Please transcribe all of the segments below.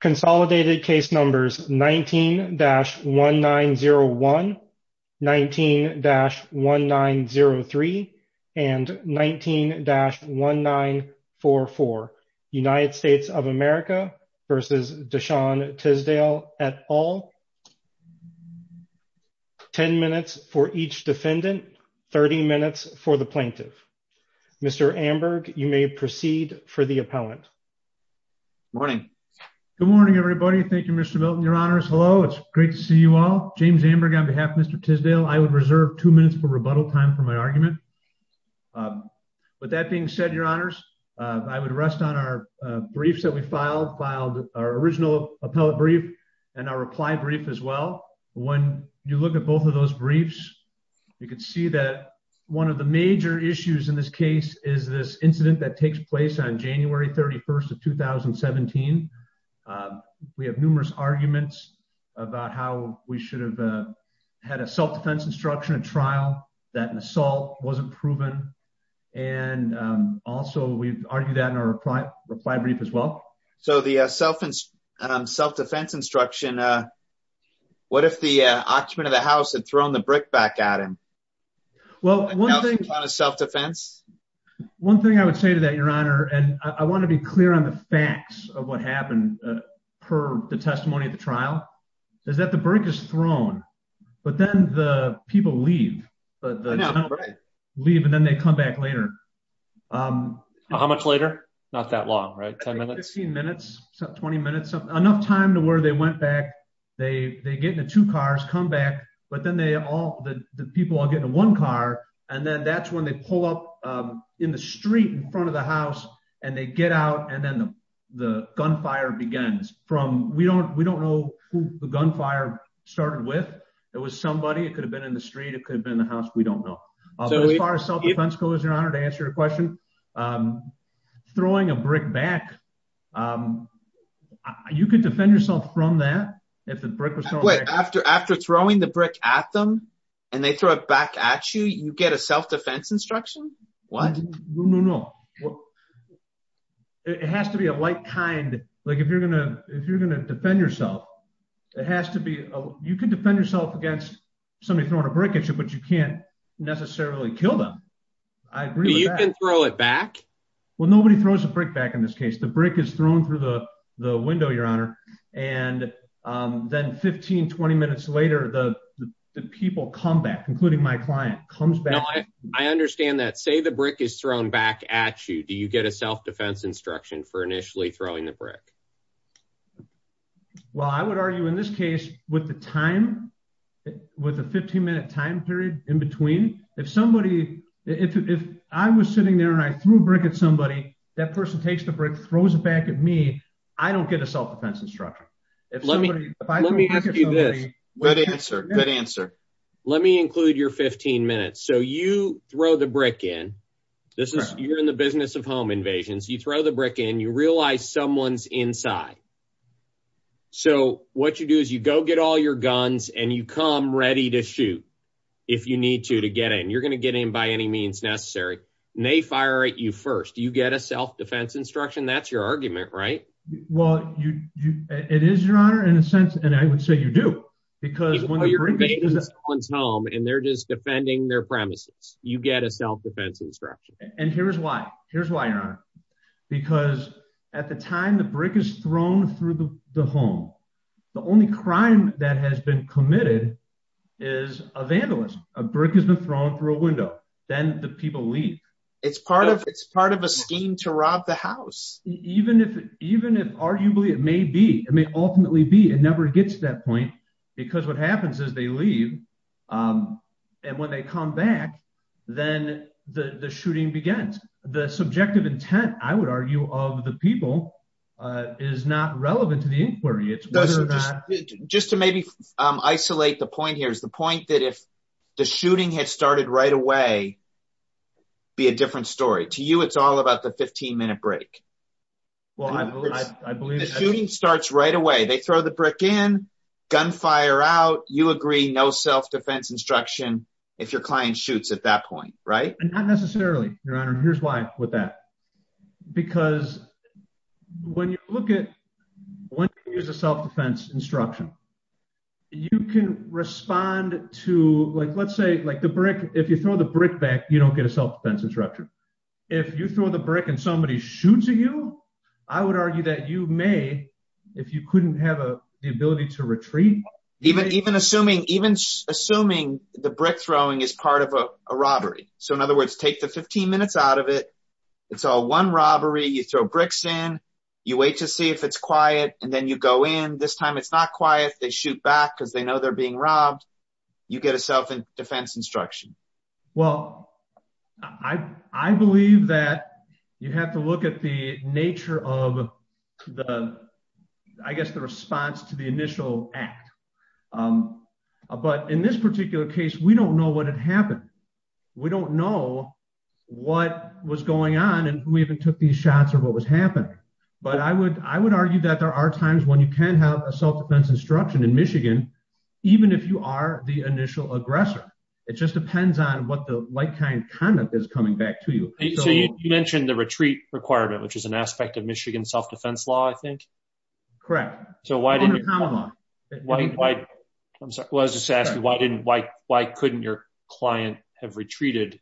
consolidated case numbers 19-1901 19-1903 and 19-1944 United States of America versus Deshaun Tisdale et al. 10 minutes for each defendant 30 minutes for the plaintiff Mr. Amberg you may proceed for the appellant morning good morning everybody thank you Mr. Milton your honors hello it's great to see you all James Amberg on behalf of Mr. Tisdale I would reserve two minutes for rebuttal time for my argument but that being said your honors I would rest on our briefs that we filed filed our original appellate brief and our reply brief as well when you look at both of those briefs you can see that one of the major issues in this case is this incident that takes place on January 31st of 2017 we have numerous arguments about how we should have had a self-defense instruction a trial that an assault wasn't proven and also we've argued that in our reply brief as well so the self and self-defense instruction uh what if the occupant of the house had thrown the brick back at him well one thing on a self-defense one thing I would say to that your honor and I want to be clear on the facts of what happened per the testimony at the trial is that the brick is thrown but then the people leave but the leave and then they come back later um how much later not that long right 10 went back they they get into two cars come back but then they all the people all get in one car and then that's when they pull up um in the street in front of the house and they get out and then the gunfire begins from we don't we don't know who the gunfire started with it was somebody it could have been in the street it could have been the house we don't know as far as self-defense goes your honor to answer your question um throwing a brick back um you could defend yourself from that if the brick was thrown after after throwing the brick at them and they throw it back at you you get a self-defense instruction what no no it has to be a like kind like if you're gonna if you're gonna defend yourself it has to be a you can defend yourself against somebody but you can't necessarily kill them i agree you can throw it back well nobody throws a brick back in this case the brick is thrown through the the window your honor and um then 15 20 minutes later the the people come back including my client comes back i understand that say the brick is thrown back at you do you get a self-defense instruction for initially throwing the brick at somebody well i would argue in this case with the time with a 15 minute time period in between if somebody if i was sitting there and i threw a brick at somebody that person takes the brick throws it back at me i don't get a self-defense instruction if let me if i let me ask you this what answer good answer let me include your 15 minutes so you throw the brick in this is you're business of home invasions you throw the brick in you realize someone's inside so what you do is you go get all your guns and you come ready to shoot if you need to to get in you're going to get in by any means necessary and they fire at you first you get a self-defense instruction that's your argument right well you you it is your honor in a sense and i would say you do because when you're bringing someone's home and they're just defending their premises you get a self-defense instruction and here's why here's why your honor because at the time the brick is thrown through the home the only crime that has been committed is a vandalism a brick has been thrown through a window then the people leave it's part of it's part of a scheme to rob the house even if even if arguably it may be it may ultimately be it never gets to that point because what happens is they leave and when they come back then the the shooting begins the subjective intent i would argue of the people is not relevant to the inquiry it's just to maybe isolate the point here is the point that if the shooting had started right away be a different story to you it's all about the 15 minute break well i believe the shooting starts right away they throw the brick in gunfire out you agree no self-defense instruction if your client shoots at that point right and not necessarily your honor here's why with that because when you look at when you use a self-defense instruction you can respond to like let's say like the brick if you throw the brick back you don't get a self-defense instructor if you throw the brick and somebody shoots you i would argue that you may if you couldn't have a the ability to retreat even even assuming even assuming the brick throwing is part of a robbery so in other words take the 15 minutes out of it it's all one robbery you throw bricks in you wait to see if it's quiet and then you go in this time it's not quiet they shoot back because they know they're being robbed you get a self-defense instruction well i i believe that you have to look at the nature of the i guess the response to the initial act but in this particular case we don't know what had happened we don't know what was going on and who even took these shots or what was happening but i would i would argue that there are times when you can have a self-defense instruction in michigan even if you are the like-kind conduct is coming back to you so you mentioned the retreat requirement which is an aspect of michigan self-defense law i think correct so why didn't you why i'm sorry i was just asking why didn't why why couldn't your client have retreated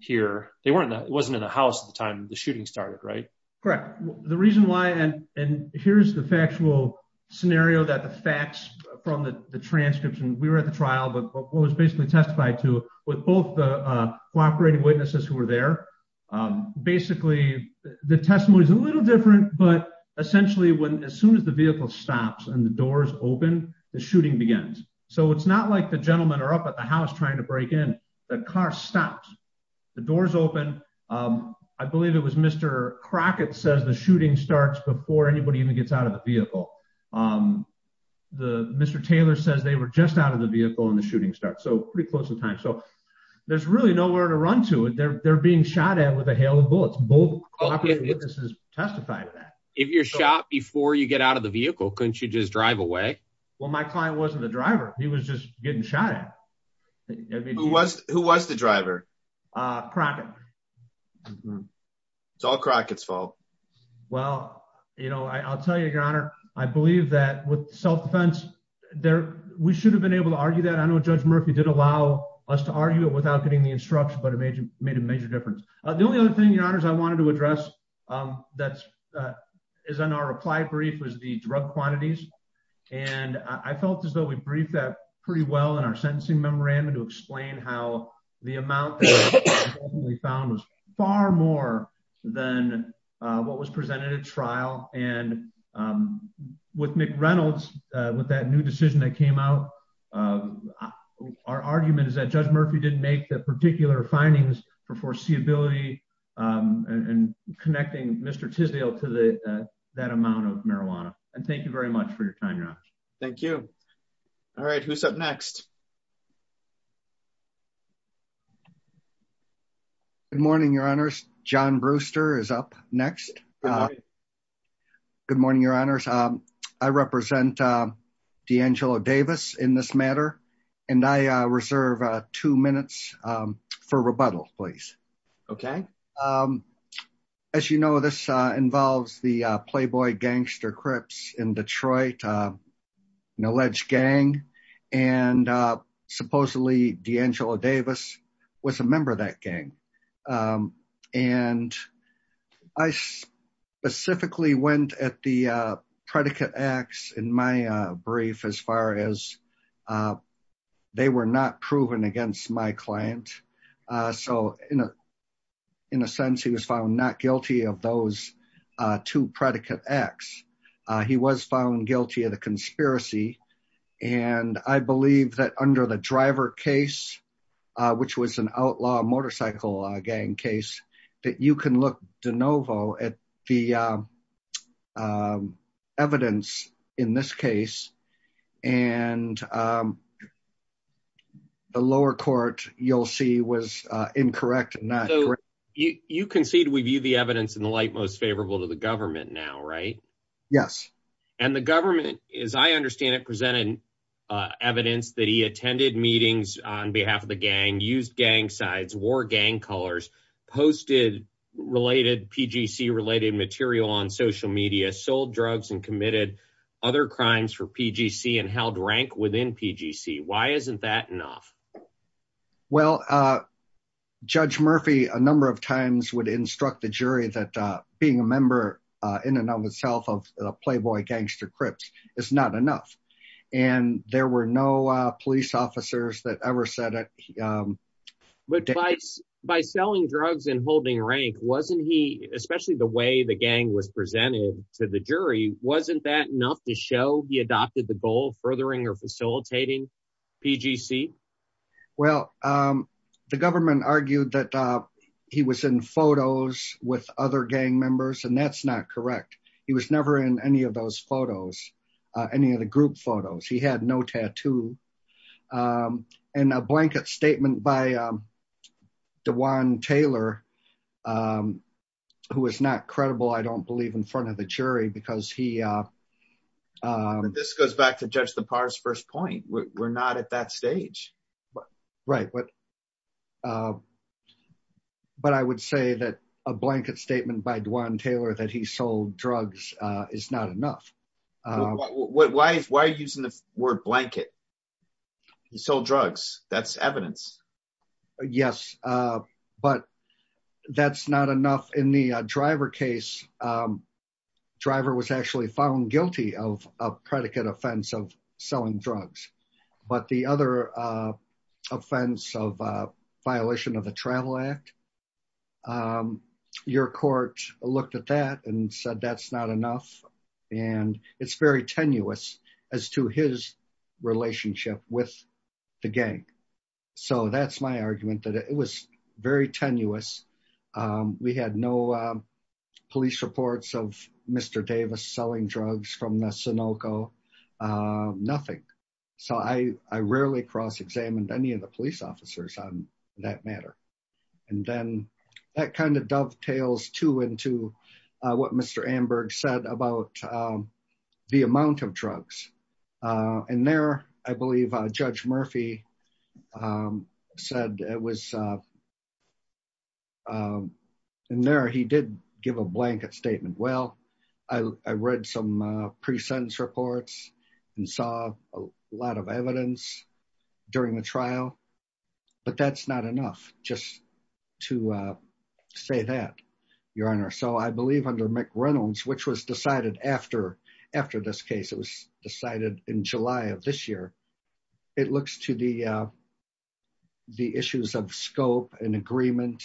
here they weren't it wasn't in the house at the time the shooting started right correct the reason why and and here's the factual scenario that the facts from the the transcripts and we were at the trial but what basically testified to with both the cooperating witnesses who were there basically the testimony is a little different but essentially when as soon as the vehicle stops and the doors open the shooting begins so it's not like the gentlemen are up at the house trying to break in the car stops the doors open i believe it was mr crockett says the shooting starts before anybody even gets out of the vehicle um the mr taylor says they were just out of the vehicle and the pretty close in time so there's really nowhere to run to it they're being shot at with a hail of bullets both witnesses testified to that if you're shot before you get out of the vehicle couldn't you just drive away well my client wasn't the driver he was just getting shot at who was who was the driver uh crockett it's all crockett's fault well you know i'll tell you your honor i believe that with self-defense there we should have been able to argue that i know judge murphy did allow us to argue it without getting the instruction but it made you made a major difference the only other thing your honor is i wanted to address um that's uh is on our reply brief was the drug quantities and i felt as though we briefed that pretty well in our sentencing memorandum to explain how the amount that we found was far more than uh what was presented at trial and um with mc reynolds uh with that new decision that came out uh our argument is that judge murphy didn't make the particular findings for foreseeability um and connecting mr tisdale to the that amount of marijuana and thank you very much for your time your honor thank you all right who's up next good morning your honors john brewster is up next uh good morning your honors um i represent uh d'angelo davis in this matter and i uh reserve uh two minutes um for rebuttal please okay um as you know this uh involves the playboy gangster crips in detroit uh an alleged gang and uh supposedly d'angelo davis was a member of that gang um and i specifically went at the uh predicate acts in my uh brief as far as uh they were not proven against my client uh so in a in a sense he was found not guilty of those uh two predicate acts uh he was found guilty of the conspiracy and i believe that under the driver case uh which was an outlaw motorcycle gang case that you can look de novo at the um evidence in this case and um the lower court you'll see was uh incorrect not correct you you concede we view the evidence in the light most favorable to the government now right yes and the government as i understand it presented uh evidence that he attended meetings on behalf of the gang used gang sides wore gang colors posted related pgc related material on social media sold drugs and committed other crimes for pgc and held rank within pgc why isn't that enough well uh judge murphy a number of times would instruct the jury that uh being a member uh in and of itself of playboy gangster crips is not enough and there were no uh police officers that ever said it um but twice by selling drugs and holding rank wasn't he especially the way the gang was presented to the jury wasn't that enough to show he adopted the goal furthering or facilitating pgc well um the government argued that uh he was in photos with other gang members and that's not correct he was never in any of those photos uh any of the group photos he had no tattoo um and a blanket statement by um dewan taylor um who is not credible i don't believe in front of the jury because he uh um this goes back to judge the par's first point we're not at that stage but right what uh but i would say that a blanket statement by dwan taylor that he sold drugs uh is not enough uh why why are you using the word blanket he sold drugs that's evidence yes uh but that's not enough in the driver case um driver was actually found guilty of a predicate offense of selling drugs but the other uh offense of uh violation of the travel act um your court looked at that and said that's not enough and it's very tenuous as to his relationship with the gang so that's my argument that it was very tenuous um we had no uh police reports of mr davis selling drugs from the sunoco uh nothing so i i rarely cross-examined any of the police officers on that matter and then that kind of dovetails too into uh what mr amberg said about the amount of drugs uh and there i believe uh judge murphy um said it was uh um and there he did give a blanket statement well i i read some uh pre-sentence reports and saw a lot of evidence during the trial but that's not enough just to uh say that your honor so i believe under mc reynolds which was decided after after this case it was decided in july of this year it looks to the uh the issues of scope and agreement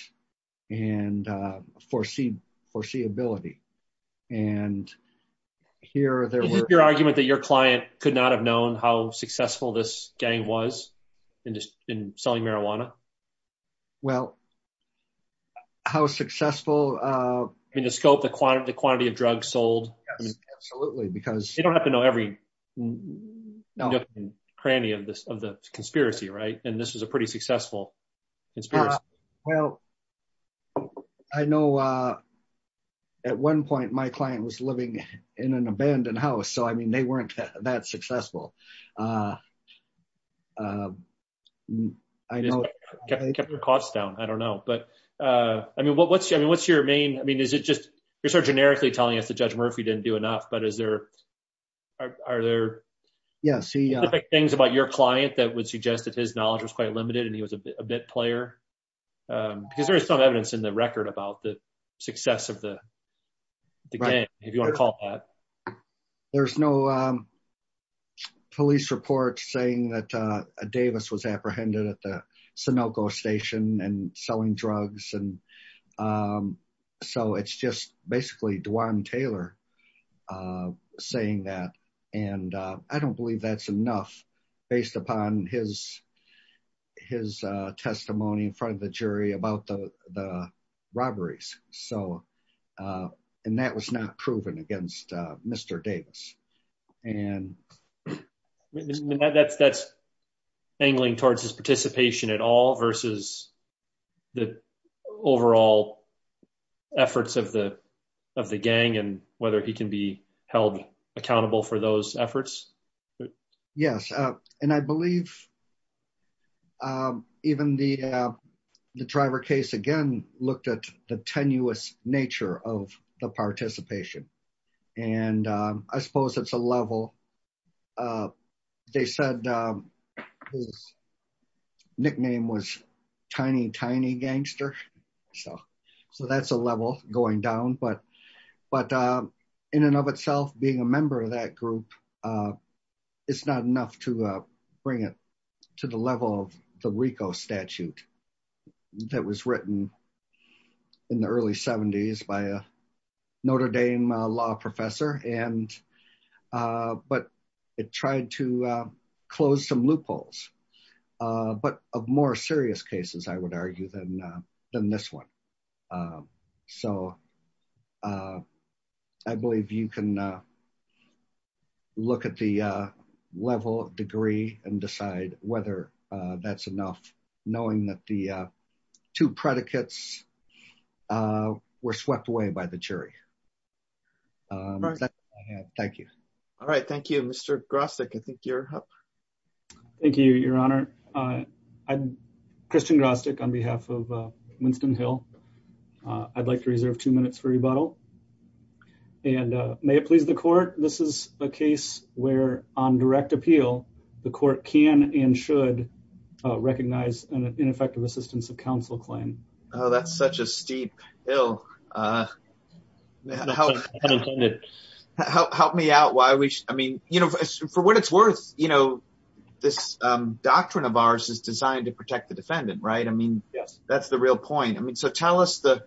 and uh foresee foreseeability and here there was your argument that your client could not have known how successful this gang was in just in selling marijuana well how successful uh i mean the scope the quantity of drugs sold absolutely because you don't have to know every cranny of this of the conspiracy right and this was a pretty successful conspiracy well i know uh at one point my client was living in an abandoned house so i mean they weren't that successful uh uh i know they kept their costs down i don't know but uh i mean what what's i mean what's your main i mean is it just you're sort of generically telling us that judge murphy didn't do enough but is there are there yes things about your client that would suggest his knowledge was quite limited and he was a bit player because there's some evidence in the record about the success of the the game if you want to call that there's no um police reports saying that uh davis was apprehended at the sonoco station and selling drugs and um so it's just basically dwan taylor uh saying that and uh i don't believe that's enough based upon his his uh testimony in front of the jury about the the robberies so uh and that was not proven against mr davis and that's that's angling towards his participation at all versus the overall efforts of the of the gang and whether he can be held accountable for those efforts yes and i believe um even the uh the driver case again looked at the tenuous nature of the participation and i suppose it's a level uh they said uh his nickname was tiny tiny gangster so so that's a level going down but but uh in and of itself being a member of that group uh it's not enough to uh the rico statute that was written in the early 70s by a notre dame law professor and uh but it tried to uh close some loopholes uh but of more serious cases i would argue than than this one um so uh i believe you can uh look at the uh level of degree and decide whether uh that's enough knowing that the uh two predicates uh were swept away by the jury thank you all right thank you mr grostic i think you're up thank you your honor uh i'm christian on behalf of uh winston hill uh i'd like to reserve two minutes for rebuttal and uh may it please the court this is a case where on direct appeal the court can and should recognize an ineffective assistance of counsel claim oh that's such a steep bill uh help help me out why we i mean you know for what it's worth you know this um doctrine of ours is designed to protect the yes that's the real point i mean so tell us the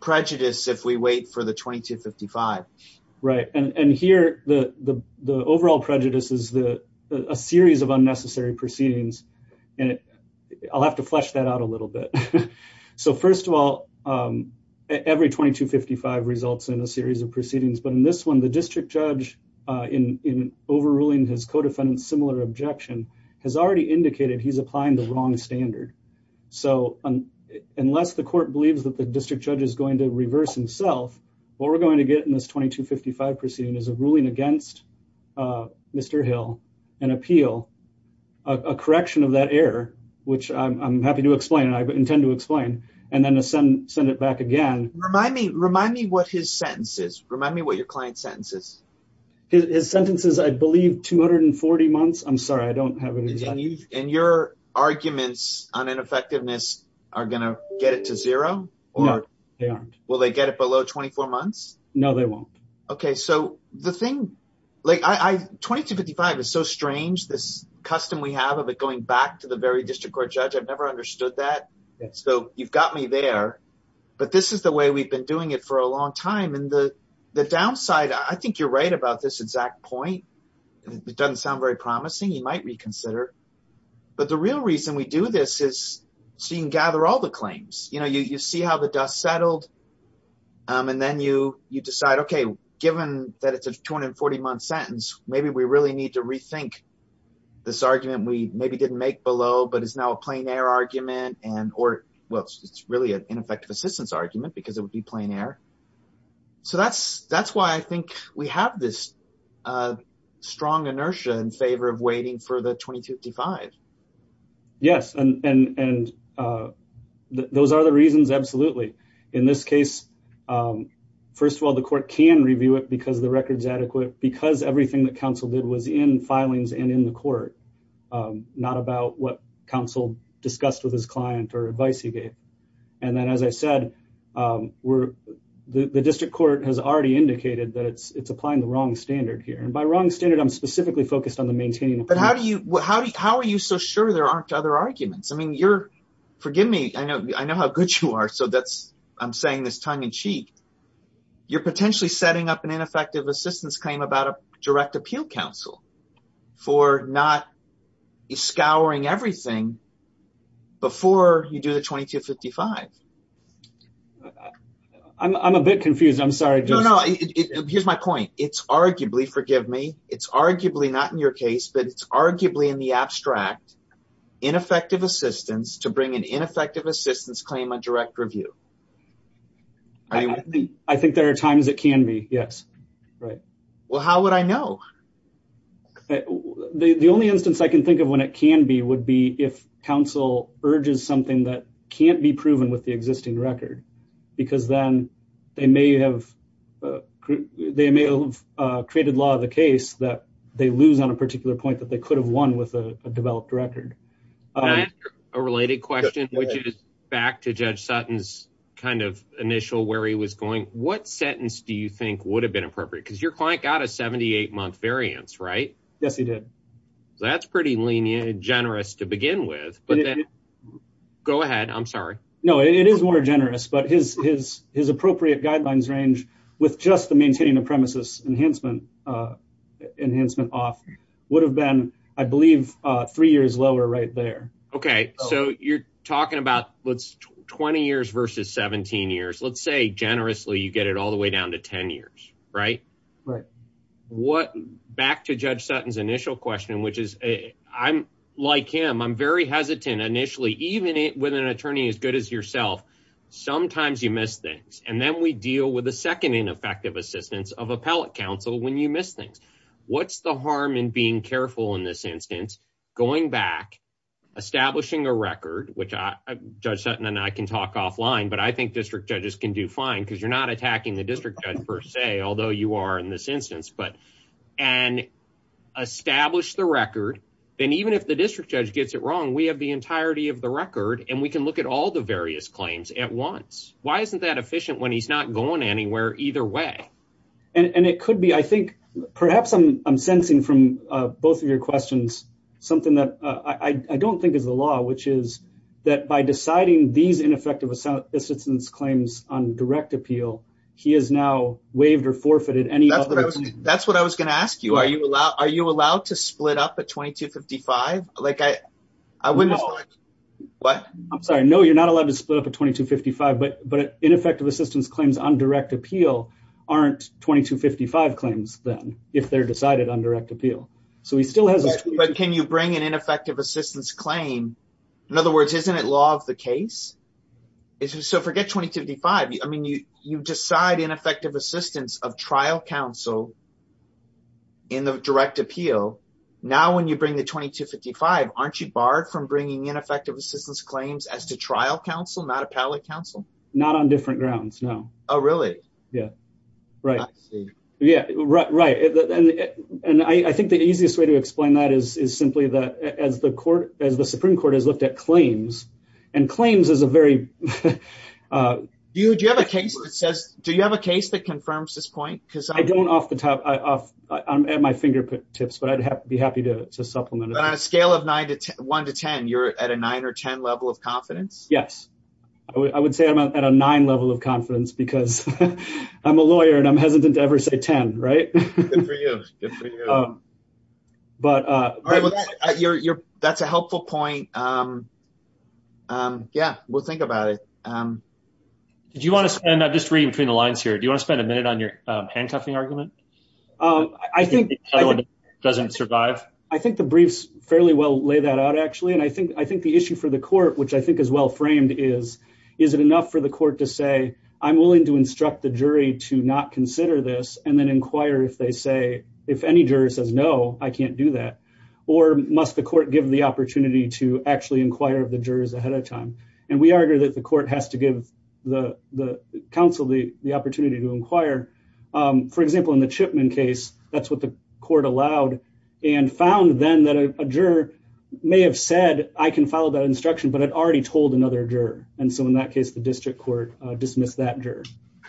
prejudice if we wait for the 2255 right and and here the the overall prejudice is the a series of unnecessary proceedings and i'll have to flesh that out a little bit so first of all um every 2255 results in a series of proceedings but in this one the district judge uh in in overruling his co-defendant's similar objection has already indicated he's applying the wrong standard so unless the court believes that the district judge is going to reverse himself what we're going to get in this 2255 proceeding is a ruling against uh mr hill an appeal a correction of that error which i'm happy to explain and i intend to explain and then ascend send it back again remind me remind me what his sentence is remind me what client sentences his sentence is i believe 240 months i'm sorry i don't have any and your arguments on ineffectiveness are gonna get it to zero or they aren't will they get it below 24 months no they won't okay so the thing like i i 2255 is so strange this custom we have of it going back to the very district court judge i've never understood that so you've got me there but this the way we've been doing it for a long time and the the downside i think you're right about this exact point it doesn't sound very promising you might reconsider but the real reason we do this is so you can gather all the claims you know you you see how the dust settled um and then you you decide okay given that it's a 240 month sentence maybe we really need to rethink this argument we maybe didn't make below but it's now a plain air argument and or well it's really an ineffective assistance argument because it would be plain air so that's that's why i think we have this uh strong inertia in favor of waiting for the 2255 yes and and and uh those are the reasons absolutely in this case um first of all the court can review it because the record's adequate because everything that council did was in filings and in the court um not about what council discussed with his client or advice he gave and then as i said um we're the the district court has already indicated that it's it's applying the wrong standard here and by wrong standard i'm specifically focused on the maintaining but how do you how do you how are you so sure there aren't other arguments i mean you're forgive me i know i know how good you are so that's i'm saying this tongue and cheek you're potentially setting up an ineffective assistance claim about a direct everything before you do the 2255 i'm a bit confused i'm sorry no no here's my point it's arguably forgive me it's arguably not in your case but it's arguably in the abstract ineffective assistance to bring an ineffective assistance claim on direct review i think there are times it can be yes right well how would i know okay the only instance i can think of when it can be would be if council urges something that can't be proven with the existing record because then they may have they may have created law of the case that they lose on a particular point that they could have won with a developed record a related question which is back to judge sutton's kind of initial where he was going what yes he did that's pretty lenient generous to begin with but then go ahead i'm sorry no it is more generous but his his his appropriate guidelines range with just the maintaining the premises enhancement uh enhancement off would have been i believe uh three years lower right there okay so you're talking about let's 20 years versus 17 years let's say generously you get it all the way down to 10 years right right what back to judge sutton's initial question which is i'm like him i'm very hesitant initially even with an attorney as good as yourself sometimes you miss things and then we deal with the second ineffective assistance of appellate counsel when you miss things what's the harm in being careful in this instance going back establishing a record which i judge sutton and i can talk offline but i think district judges can do fine because you're not attacking the district judge per se although you are in this instance but and establish the record then even if the district judge gets it wrong we have the entirety of the record and we can look at all the various claims at once why isn't that efficient when he's not going anywhere either way and and it could be i think perhaps i'm i'm sensing from uh both of your questions something that i i don't think is the law which is that by deciding these ineffective assistance claims on direct appeal he has now waived or forfeited any that's what i was that's what i was going to ask you are you allowed are you allowed to split up at 22 55 like i i wouldn't what i'm sorry no you're not allowed to split up at 22 55 but but ineffective assistance claims on direct appeal aren't 22 55 claims then if they're decided on direct appeal so he still has but can you bring an ineffective assistance claim in other words isn't it law of the case so forget 22 55 i mean you you decide ineffective assistance of trial counsel in the direct appeal now when you bring the 22 55 aren't you barred from bringing ineffective assistance claims as to trial counsel not appellate counsel not on different grounds no oh really yeah right yeah right right and and i i think the easiest way to explain that is is simply that as the court as the supreme court has looked at claims and claims is a very uh do you do you have a case that says do you have a case that confirms this point because i don't off the top i off i'm at my fingertips but i'd have to be happy to to supplement on a scale of nine to one to ten you're at a nine or ten level of confidence yes i would say i'm at a nine level of confidence because i'm a lawyer and i'm hesitant to ever say ten right good for you um but uh all right well your your that's a helpful point um um yeah we'll think about it um did you want to spend i'm just reading between the lines here do you want to spend a minute on your uh handcuffing argument um i think doesn't survive i think the briefs fairly well lay that out actually and i think i think the issue for the court which i think is well framed is is it enough for the court to say i'm willing to instruct the jury to not consider this and then inquire if they say if any juror says no i can't do that or must the court give the opportunity to actually inquire of the jurors ahead of time and we argue that the court has to give the the council the the opportunity to inquire um for example in the chipman case that's what the court allowed and found then that a juror may have said i can follow that instruction but i'd already told another juror and so in that case the district court uh dismissed that juror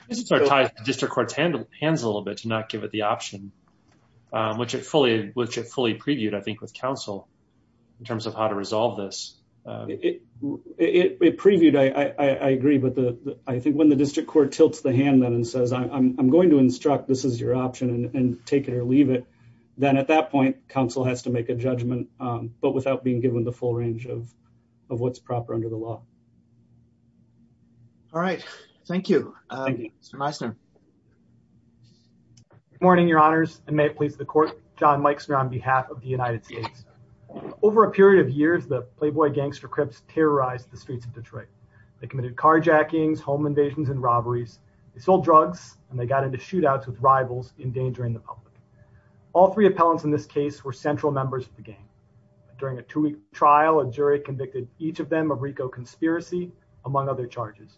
just start tying district courts handle hands a little bit to not give it the option um which it fully which it fully previewed i think with council in terms of how to resolve this it it it previewed i i i agree but the i think when the district court tilts the hand then and says i'm going to instruct this is your option and take it or leave it then at that point council has to make a judgment um but without being given the full range of of what's proper under the law all right thank you um mr meisner good morning your honors and may it please the court john mike's on behalf of the united states over a period of years the playboy gangster crips terrorized the streets of detroit they committed carjackings home invasions and robberies they sold drugs and they got into shootouts with rivals endangering the public all three appellants in this case were central members of the game during a two-week trial a jury convicted each of them of rico conspiracy among other charges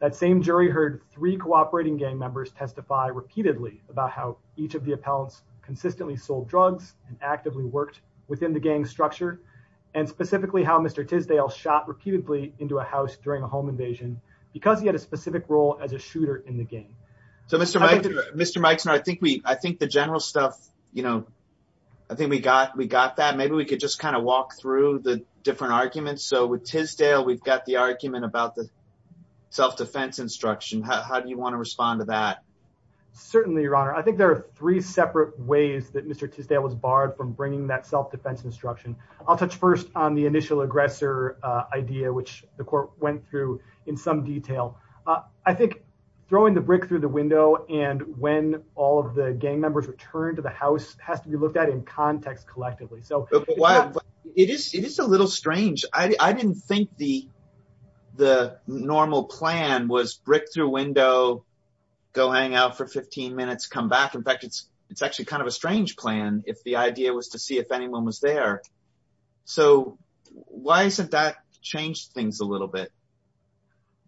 that same jury heard three cooperating gang members testify repeatedly about how each of the appellants consistently sold drugs and actively worked within the gang structure and specifically how mr tisdale shot repeatedly into a house during a home invasion because he had a specific role as a shooter in the game so mr mike mr meisner i think we i think the general stuff you know i think we got we got that maybe we could just kind of walk through the about the self-defense instruction how do you want to respond to that certainly your honor i think there are three separate ways that mr tisdale was barred from bringing that self-defense instruction i'll touch first on the initial aggressor uh idea which the court went through in some detail uh i think throwing the brick through the window and when all of the gang members returned to the house has to be looked at in context collectively so it is it is a little strange i i didn't think the normal plan was brick through window go hang out for 15 minutes come back in fact it's it's actually kind of a strange plan if the idea was to see if anyone was there so why isn't that changed things a little bit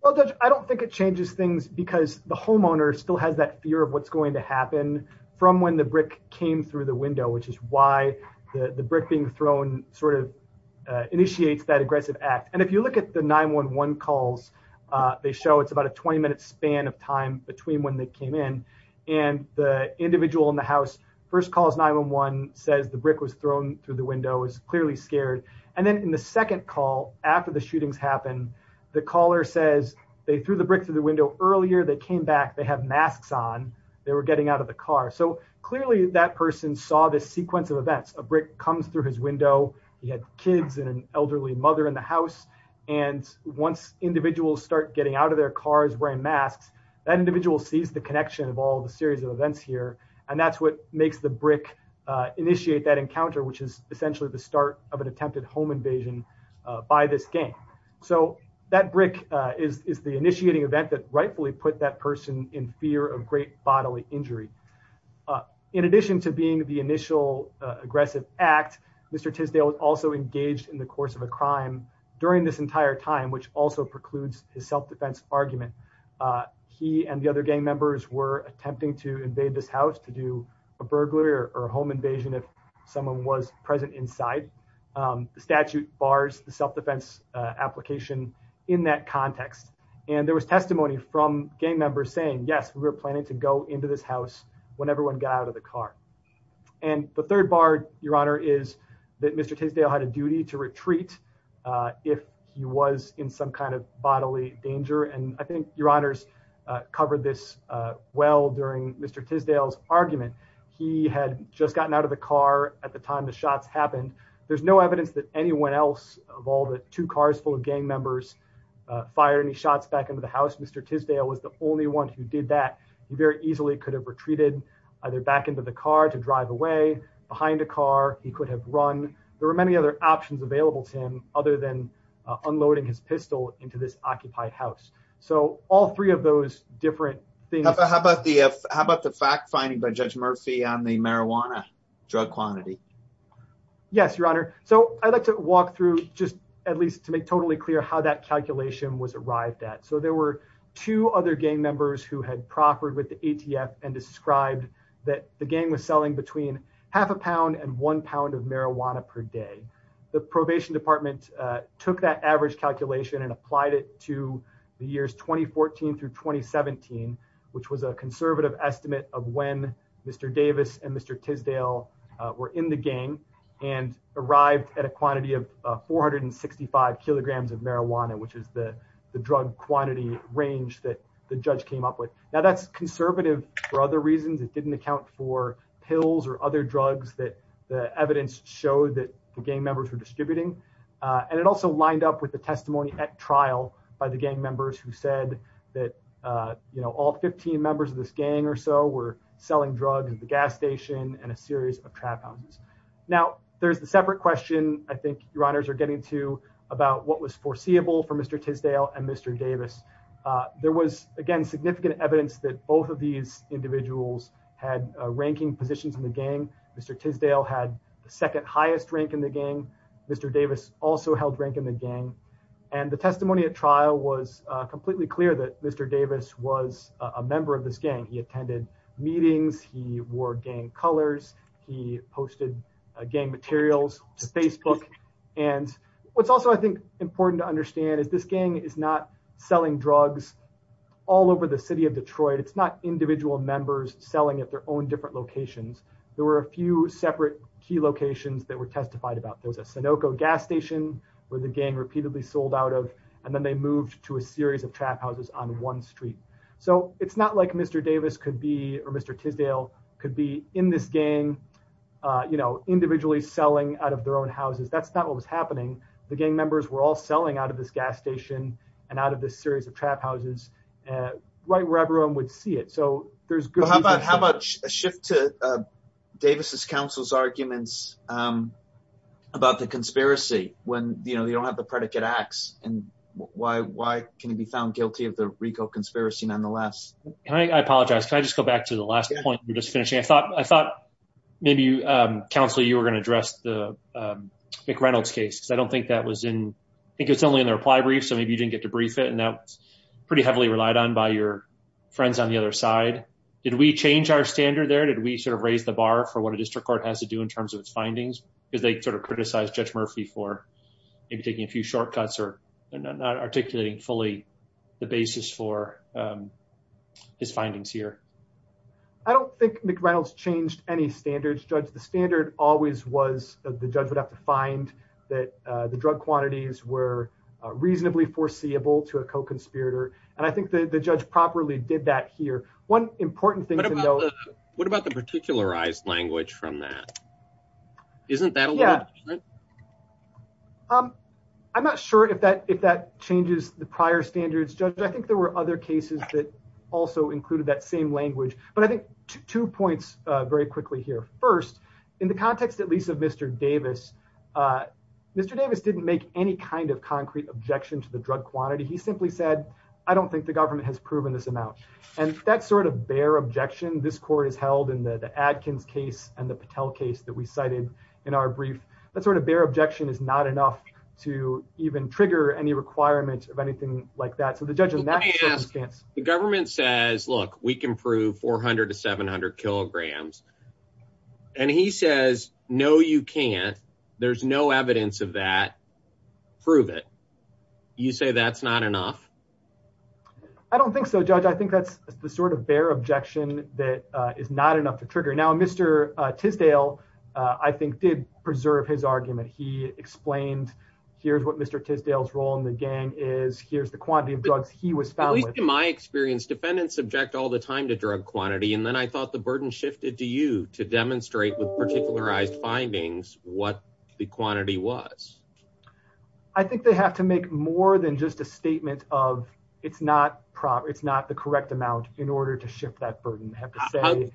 well i don't think it changes things because the homeowner still has that fear of what's going to happen from when the brick came through the window which is why the the brick being thrown sort of initiates that aggressive act and if you look at the 911 calls uh they show it's about a 20 minute span of time between when they came in and the individual in the house first calls 911 says the brick was thrown through the window is clearly scared and then in the second call after the shootings happen the caller says they threw the brick through the window earlier they came back they have masks on they were getting out of the car so clearly that person saw this sequence of events a brick comes through his window he had kids and an elderly mother in the house and once individuals start getting out of their cars wearing masks that individual sees the connection of all the series of events here and that's what makes the brick uh initiate that encounter which is essentially the start of an attempted home invasion by this gang so that brick is is the initiating event that rightfully put that person in fear of great bodily injury in addition to being the initial aggressive act mr tisdale was also engaged in the course of a crime during this entire time which also precludes his self-defense argument he and the other gang members were attempting to invade this house to do a burglar or a home invasion if someone was present inside the statute bars the self-defense application in that context and there was testimony from gang members saying yes we were planning to go into this house when everyone got out of the car and the third bar your honor is that mr tisdale had a duty to retreat uh if he was in some kind of bodily danger and i think your honors uh covered this uh well during mr tisdale's argument he had just gotten out of the car at the time the shots happened there's no evidence that anyone else of all the two cars full of gang members uh fired any shots back into the house mr tisdale was the only one who did that he very easily could have retreated either back into the car to drive away behind a car he could have run there were many other options available to him other than unloading his pistol into this occupied house so all three of those different things how about the how about the fact finding by judge murphy on marijuana drug quantity yes your honor so i'd like to walk through just at least to make totally clear how that calculation was arrived at so there were two other gang members who had proffered with the atf and described that the gang was selling between half a pound and one pound of marijuana per day the probation department uh took that average calculation and applied it to the years 2014 through 2017 which was a conservative estimate of when mr davis and mr tisdale were in the gang and arrived at a quantity of 465 kilograms of marijuana which is the the drug quantity range that the judge came up with now that's conservative for other reasons it didn't account for pills or other drugs that the evidence showed that the gang members were that uh you know all 15 members of this gang or so were selling drugs at the gas station and a series of trap houses now there's the separate question i think your honors are getting to about what was foreseeable for mr tisdale and mr davis uh there was again significant evidence that both of these individuals had ranking positions in the gang mr tisdale had the second highest rank in the gang mr davis also held rank in the gang and the testimony at trial was uh clear that mr davis was a member of this gang he attended meetings he wore gang colors he posted gang materials to facebook and what's also i think important to understand is this gang is not selling drugs all over the city of detroit it's not individual members selling at their own different locations there were a few separate key locations that were testified about there was a on one street so it's not like mr davis could be or mr tisdale could be in this gang uh you know individually selling out of their own houses that's not what was happening the gang members were all selling out of this gas station and out of this series of trap houses uh right where everyone would see it so there's good how about how much a shift to davis's counsel's arguments um about the conspiracy when you know they don't have the predicate acts and why why can it be found guilty of the rico conspiracy nonetheless can i apologize can i just go back to the last point you're just finishing i thought i thought maybe you um counsel you were going to address the mcreynolds case i don't think that was in i think it's only in the reply brief so maybe you didn't get to brief it and that's pretty heavily relied on by your friends on the other side did we change our standard there did we sort of raise the bar for what a district court has to do in terms of its findings because they sort of criticize judge murphy for maybe taking a few shortcuts or not articulating fully the basis for um his findings here i don't think mcreynolds changed any standards judge the standard always was the judge would have to find that uh the drug quantities were reasonably foreseeable to a co-conspirator and i think that the judge properly did that here one important thing to know what about the particularized language from that isn't that yeah um i'm not sure if that if that changes the prior standards judge i think there were other cases that also included that same language but i think two points uh very quickly here first in the context at least of mr davis uh mr davis didn't make any kind of concrete objection to the drug quantity he simply said i don't think the government has proven this amount and that sort of bare objection this court has held in the adkins case and the patel case that we cited in our brief that sort of bare objection is not enough to even trigger any requirement of anything like that so the judge in that circumstance the government says look we can prove 400 to 700 kilograms and he says no you can't there's no evidence of that prove it you say that's not enough i don't think so judge i think that's the sort of bare objection that uh is not enough to trigger now mr uh tisdale i think did preserve his argument he explained here's what mr tisdale's role in the gang is here's the quantity of drugs he was found at least in my experience defendants subject all the time to drug quantity and then i thought the burden shifted to you to demonstrate with particularized findings what the quantity was i think they have to make more than just a statement of it's not proper it's not the correct amount in order to shift that burden they have to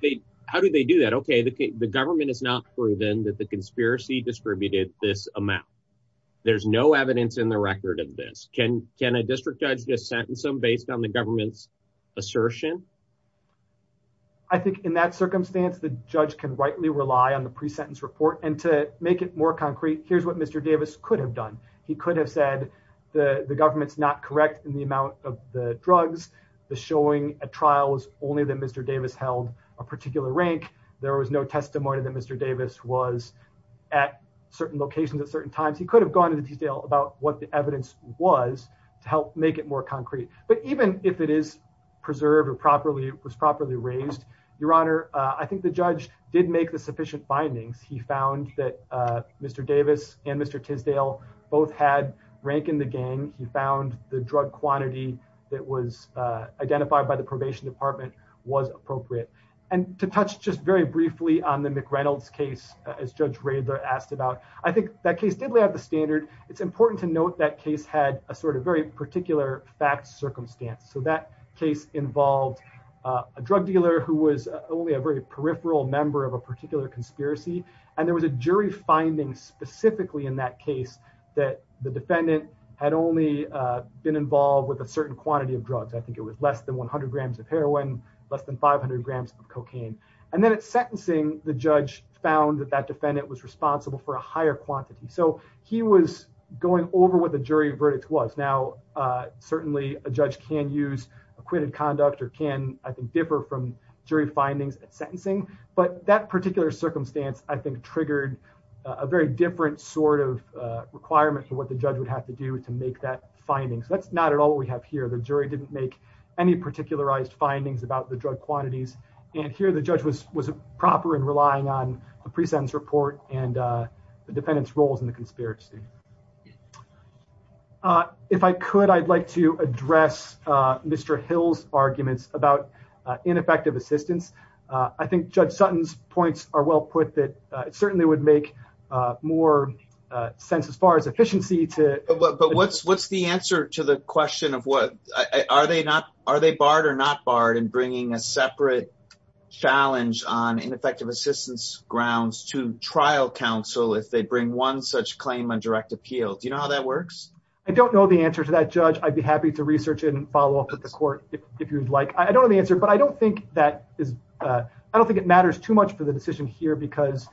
how do they do that okay the government is not proven that the conspiracy distributed this amount there's no evidence in the record of this can can a district judge just sentence them based on the government's assertion i think in that circumstance the judge can rightly rely on the pre-sentence report and to make it more concrete here's what mr davis could have done he could have said the the government's not correct in the amount of the drugs the showing at trials only that mr davis held a particular rank there was no testimony that mr davis was at certain locations at certain times he could have gone into detail about what the evidence was to help make it more concrete but even if it is preserved or properly was properly raised your honor i think the judge did make the sufficient findings he found that uh mr davis and mr tisdale both had rank in the gang he found the drug quantity that was uh identified by the probation department was appropriate and to touch just very briefly on the mc reynolds case as judge radler asked about i think that case did lay out the standard it's important to note that case had a sort of very particular fact circumstance so that case involved a drug dealer who was only a very peripheral member of a particular conspiracy and there was a jury finding specifically in that case that the defendant had only uh been involved with a certain quantity of drugs i think was less than 100 grams of heroin less than 500 grams of cocaine and then at sentencing the judge found that that defendant was responsible for a higher quantity so he was going over what the jury verdict was now uh certainly a judge can use acquitted conduct or can i think differ from jury findings at sentencing but that particular circumstance i think triggered a very different sort of uh requirement for what the judge would have to do to make that finding so that's not at all what we have here the jury didn't make any particularized findings about the drug quantities and here the judge was was proper and relying on a pre-sentence report and uh the defendant's roles in the conspiracy uh if i could i'd like to address uh mr hill's arguments about ineffective assistance i think judge sutton's points are well put that it certainly would make uh more uh sense as far as efficiency to but what's what's the answer to the question of what are they not are they barred or not barred in bringing a separate challenge on ineffective assistance grounds to trial counsel if they bring one such claim on direct appeal do you know how that works i don't know the answer to that judge i'd be happy to research and follow up with the court if you'd like i don't know the answer but i don't think that is uh i don't think it matters too much for the decision here because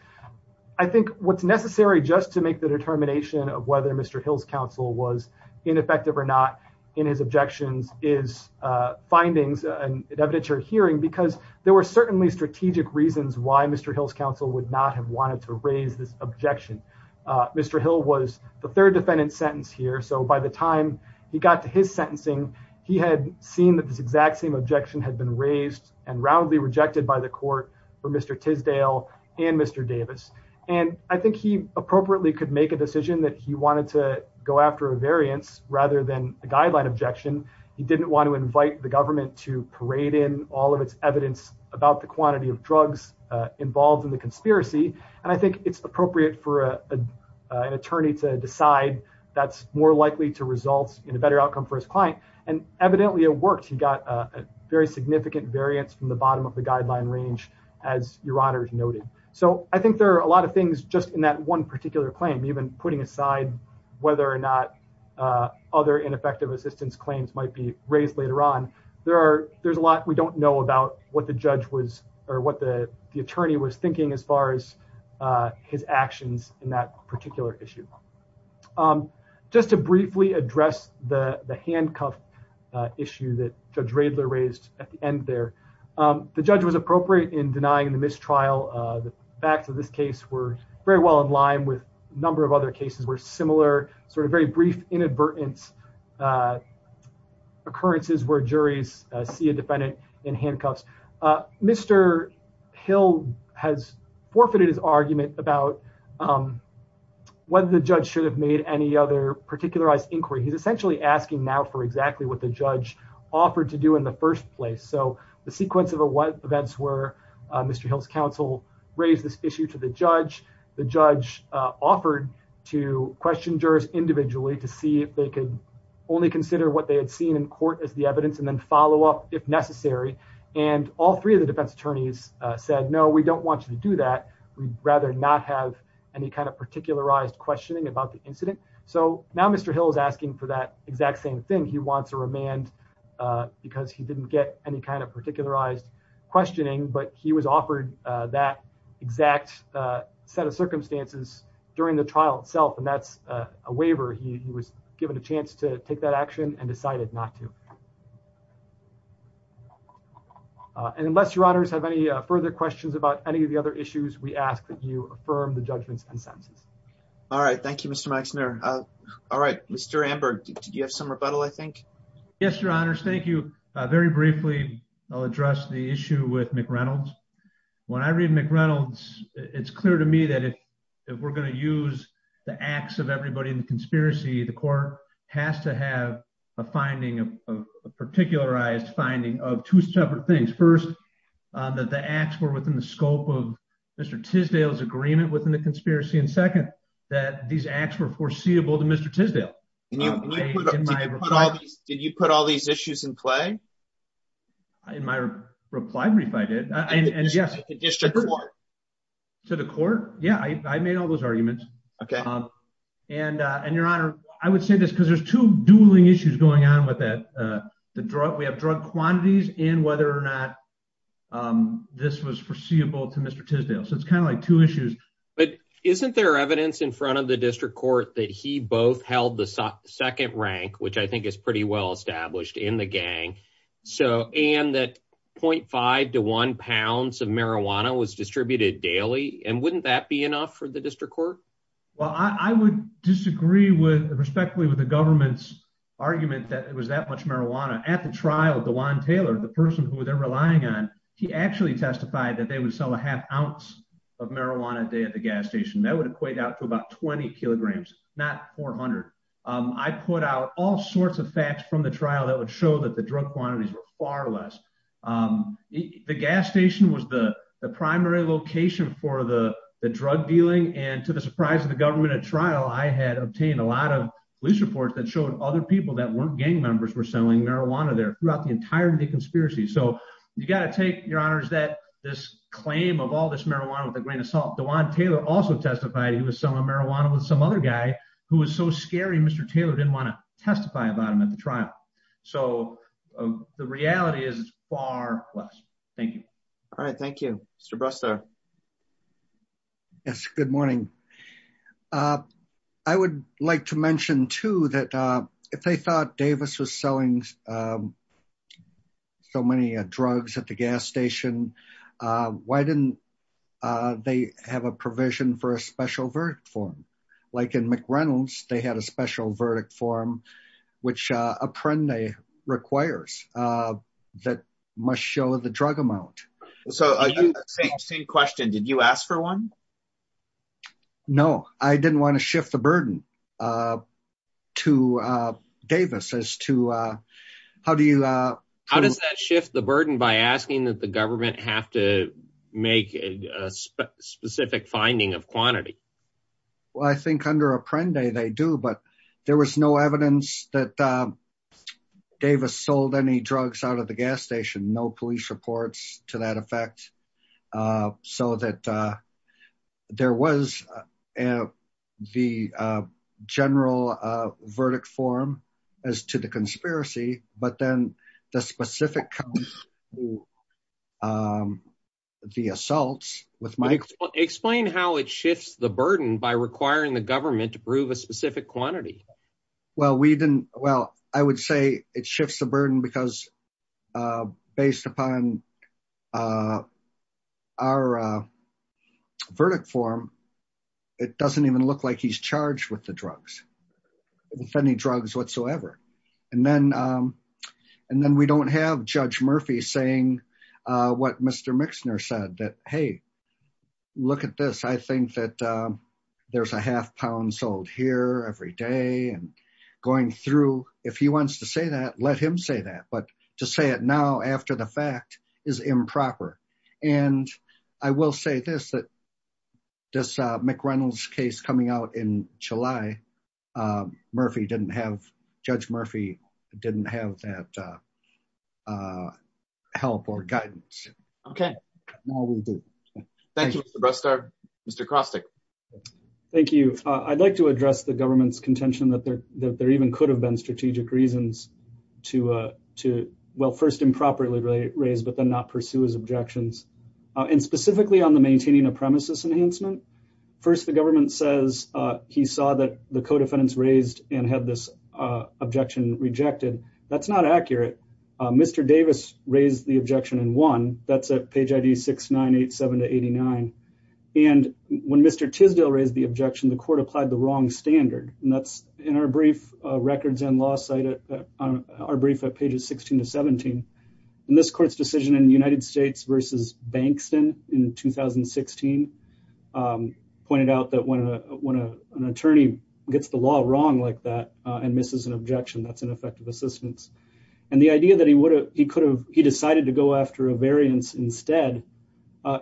i think what's necessary just to make the determination of whether mr hill's counsel was ineffective or not in his objections is uh findings and evidentiary hearing because there were certainly strategic reasons why mr hill's counsel would not have wanted to raise this objection uh mr hill was the third defendant sentence here so by the time he got to his sentencing he had seen that this exact same objection had been raised and roundly rejected by the court for mr tisdale and mr davis and i think he appropriately could make a decision that he wanted to go after a variance rather than a guideline objection he didn't want to invite the government to parade in all of its evidence about the quantity of drugs uh involved in the conspiracy and i think it's appropriate for a an attorney to decide that's more likely to result in a better outcome for his client and evidently it worked he got a very significant variance from the bottom of the guideline range as your honor is noted so i think there are a lot of things just in that one particular claim even putting aside whether or not uh other ineffective assistance claims might be raised later on there are there's a lot we don't know about what the judge was or what the the attorney was thinking as far as uh his actions in that particular issue um just to briefly address the the handcuff uh issue that judge radler raised at the end there um the judge was appropriate in denying the mistrial uh the facts of this case were very well in line with a number of other cases were similar sort of very brief inadvertent uh occurrences where juries see a defendant in handcuffs uh mr hill has forfeited his argument about um whether the judge should have made any other particularized inquiry he's essentially asking now for exactly what the judge offered to do in the first place so the sequence of events were uh mr hill's counsel raised this issue to the judge the judge uh offered to question jurors individually to see if they could only consider what they had seen in court as the evidence and then follow up if necessary and all three of the defense attorneys uh said no we don't want you to do that we'd rather not have any kind of particularized questioning about the incident so now mr hill is asking for that exact same thing he wants a remand uh because he didn't get any kind of particularized questioning but he was offered uh that exact uh set of circumstances during the trial itself and that's a waiver he was given a chance to take that action and decided not to and unless your honors have any further questions about any of the other issues we ask that you affirm the judgment's consensus all right thank you mr maxner uh all right mr amber did you have some rebuttal i think yes your honors thank you uh very briefly i'll address the issue with mc reynolds when i read mc reynolds it's clear to me that if if we're going to use the acts of everybody in the conspiracy the court has to have a finding of a particularized finding of two separate things first that the acts were within the scope of mr tisdale's agreement within the conspiracy and second that these acts were foreseeable to mr tisdale did you put all these issues in play in my reply brief i did and yes to the court yeah i i made all those arguments okay um and uh and your honor i would say this because there's two dueling issues going on with that uh the drug we have drug quantities and whether or not um this was foreseeable to mr tisdale so it's kind of like two issues but isn't there evidence in front of the district court that he both held the second rank which i think is pretty well established in the gang so and that 0.5 to one pounds of marijuana was distributed daily and wouldn't that be enough for the district court well i i would disagree with respectfully with the government's argument that it was that much marijuana at the trial the one taylor the person who they're relying on he actually testified that they would sell a half ounce of marijuana a day at the gas station that would equate out to about 20 kilograms not 400 um i put out all sorts of facts from the trial that would show that the drug quantities were far less um the gas station was the the primary location for the the drug dealing and to the surprise of the government at trial i had obtained a lot of police reports that showed other people that weren't gang members were selling marijuana there throughout the entire day conspiracy so you got to take your honors that this claim of all this marijuana with a grain of salt the one taylor also testified he was selling marijuana with some other guy who was so scary mr taylor didn't want to testify about him at the trial so the reality is it's far less thank you all right thank you mr bruster yes good morning uh i would like to mention too that uh if they thought davis was selling so many drugs at the gas station uh why didn't uh they have a provision for a special verdict form like in mcrenald's they had a special verdict form which uh apprende requires uh that must the drug amount so are you same same question did you ask for one no i didn't want to shift the burden uh to uh davis as to uh how do you uh how does that shift the burden by asking that the government have to make a specific finding of quantity well i think under apprende they do but there was no evidence that davis sold any drugs out the gas station no police reports to that effect uh so that uh there was uh the uh general uh verdict form as to the conspiracy but then the specific comes to um the assaults with mike explain how it shifts the burden by requiring the government to prove a specific quantity well we didn't well i would say it shifts the burden because uh based upon uh our uh verdict form it doesn't even look like he's charged with the drugs with any drugs whatsoever and then um and then we don't have judge murphy saying uh what mr and going through if he wants to say that let him say that but to say it now after the fact is improper and i will say this that this uh mcrenald's case coming out in july um murphy didn't have judge murphy didn't have that uh uh help or guidance okay now we'll do thank you mr crostic thank you i'd like to address the government's contention that there that there even could have been strategic reasons to uh to well first improperly raised but then not pursue his objections and specifically on the maintaining a premises enhancement first the government says uh he saw that the co-defendants raised and had this uh objection rejected that's not accurate uh mr davis raised the objection and won that's at page id 6 9 8 7 to 89 and when mr tisdale raised the objection the court applied the wrong standard and that's in our brief uh records and law cited on our brief at pages 16 to 17 in this court's decision in the united states versus bankston in 2016 um pointed out that when a when a an attorney gets the law wrong like that and misses an objection that's an effective assistance and the idea that he would have he could have he decided to go after a variance instead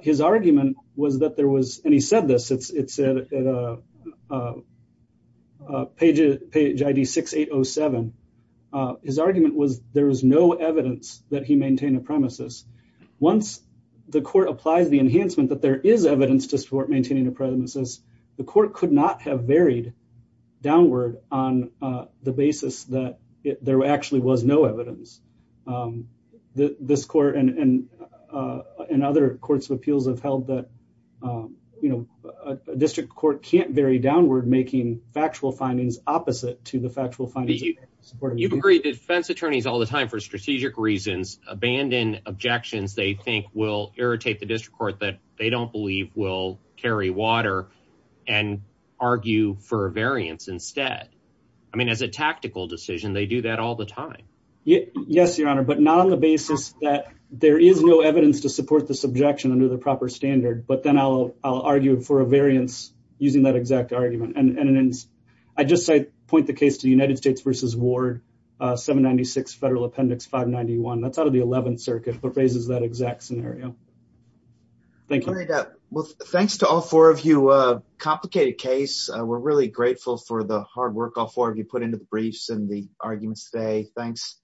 his argument was that there was and he said this it's it's at a uh uh page page id 6807 his argument was there is no evidence that he maintained a premises once the court applies the enhancement that there is evidence to support maintaining a premises the court could not have varied downward on uh the basis that there actually was no evidence um this court and and and other courts of appeals have held that um you know a district court can't vary downward making factual findings opposite to the factual findings you've agreed defense attorneys all the time for strategic reasons abandon objections they think will irritate the district court that they don't will carry water and argue for a variance instead i mean as a tactical decision they do that all the time yes your honor but not on the basis that there is no evidence to support the subjection under the proper standard but then i'll i'll argue for a variance using that exact argument and i just say point the case to the united states versus ward uh 796 federal appendix 591 that's the 11th circuit but raises that exact scenario thank you well thanks to all four of you uh complicated case we're really grateful for the hard work all four of you put into the briefs and the arguments today thanks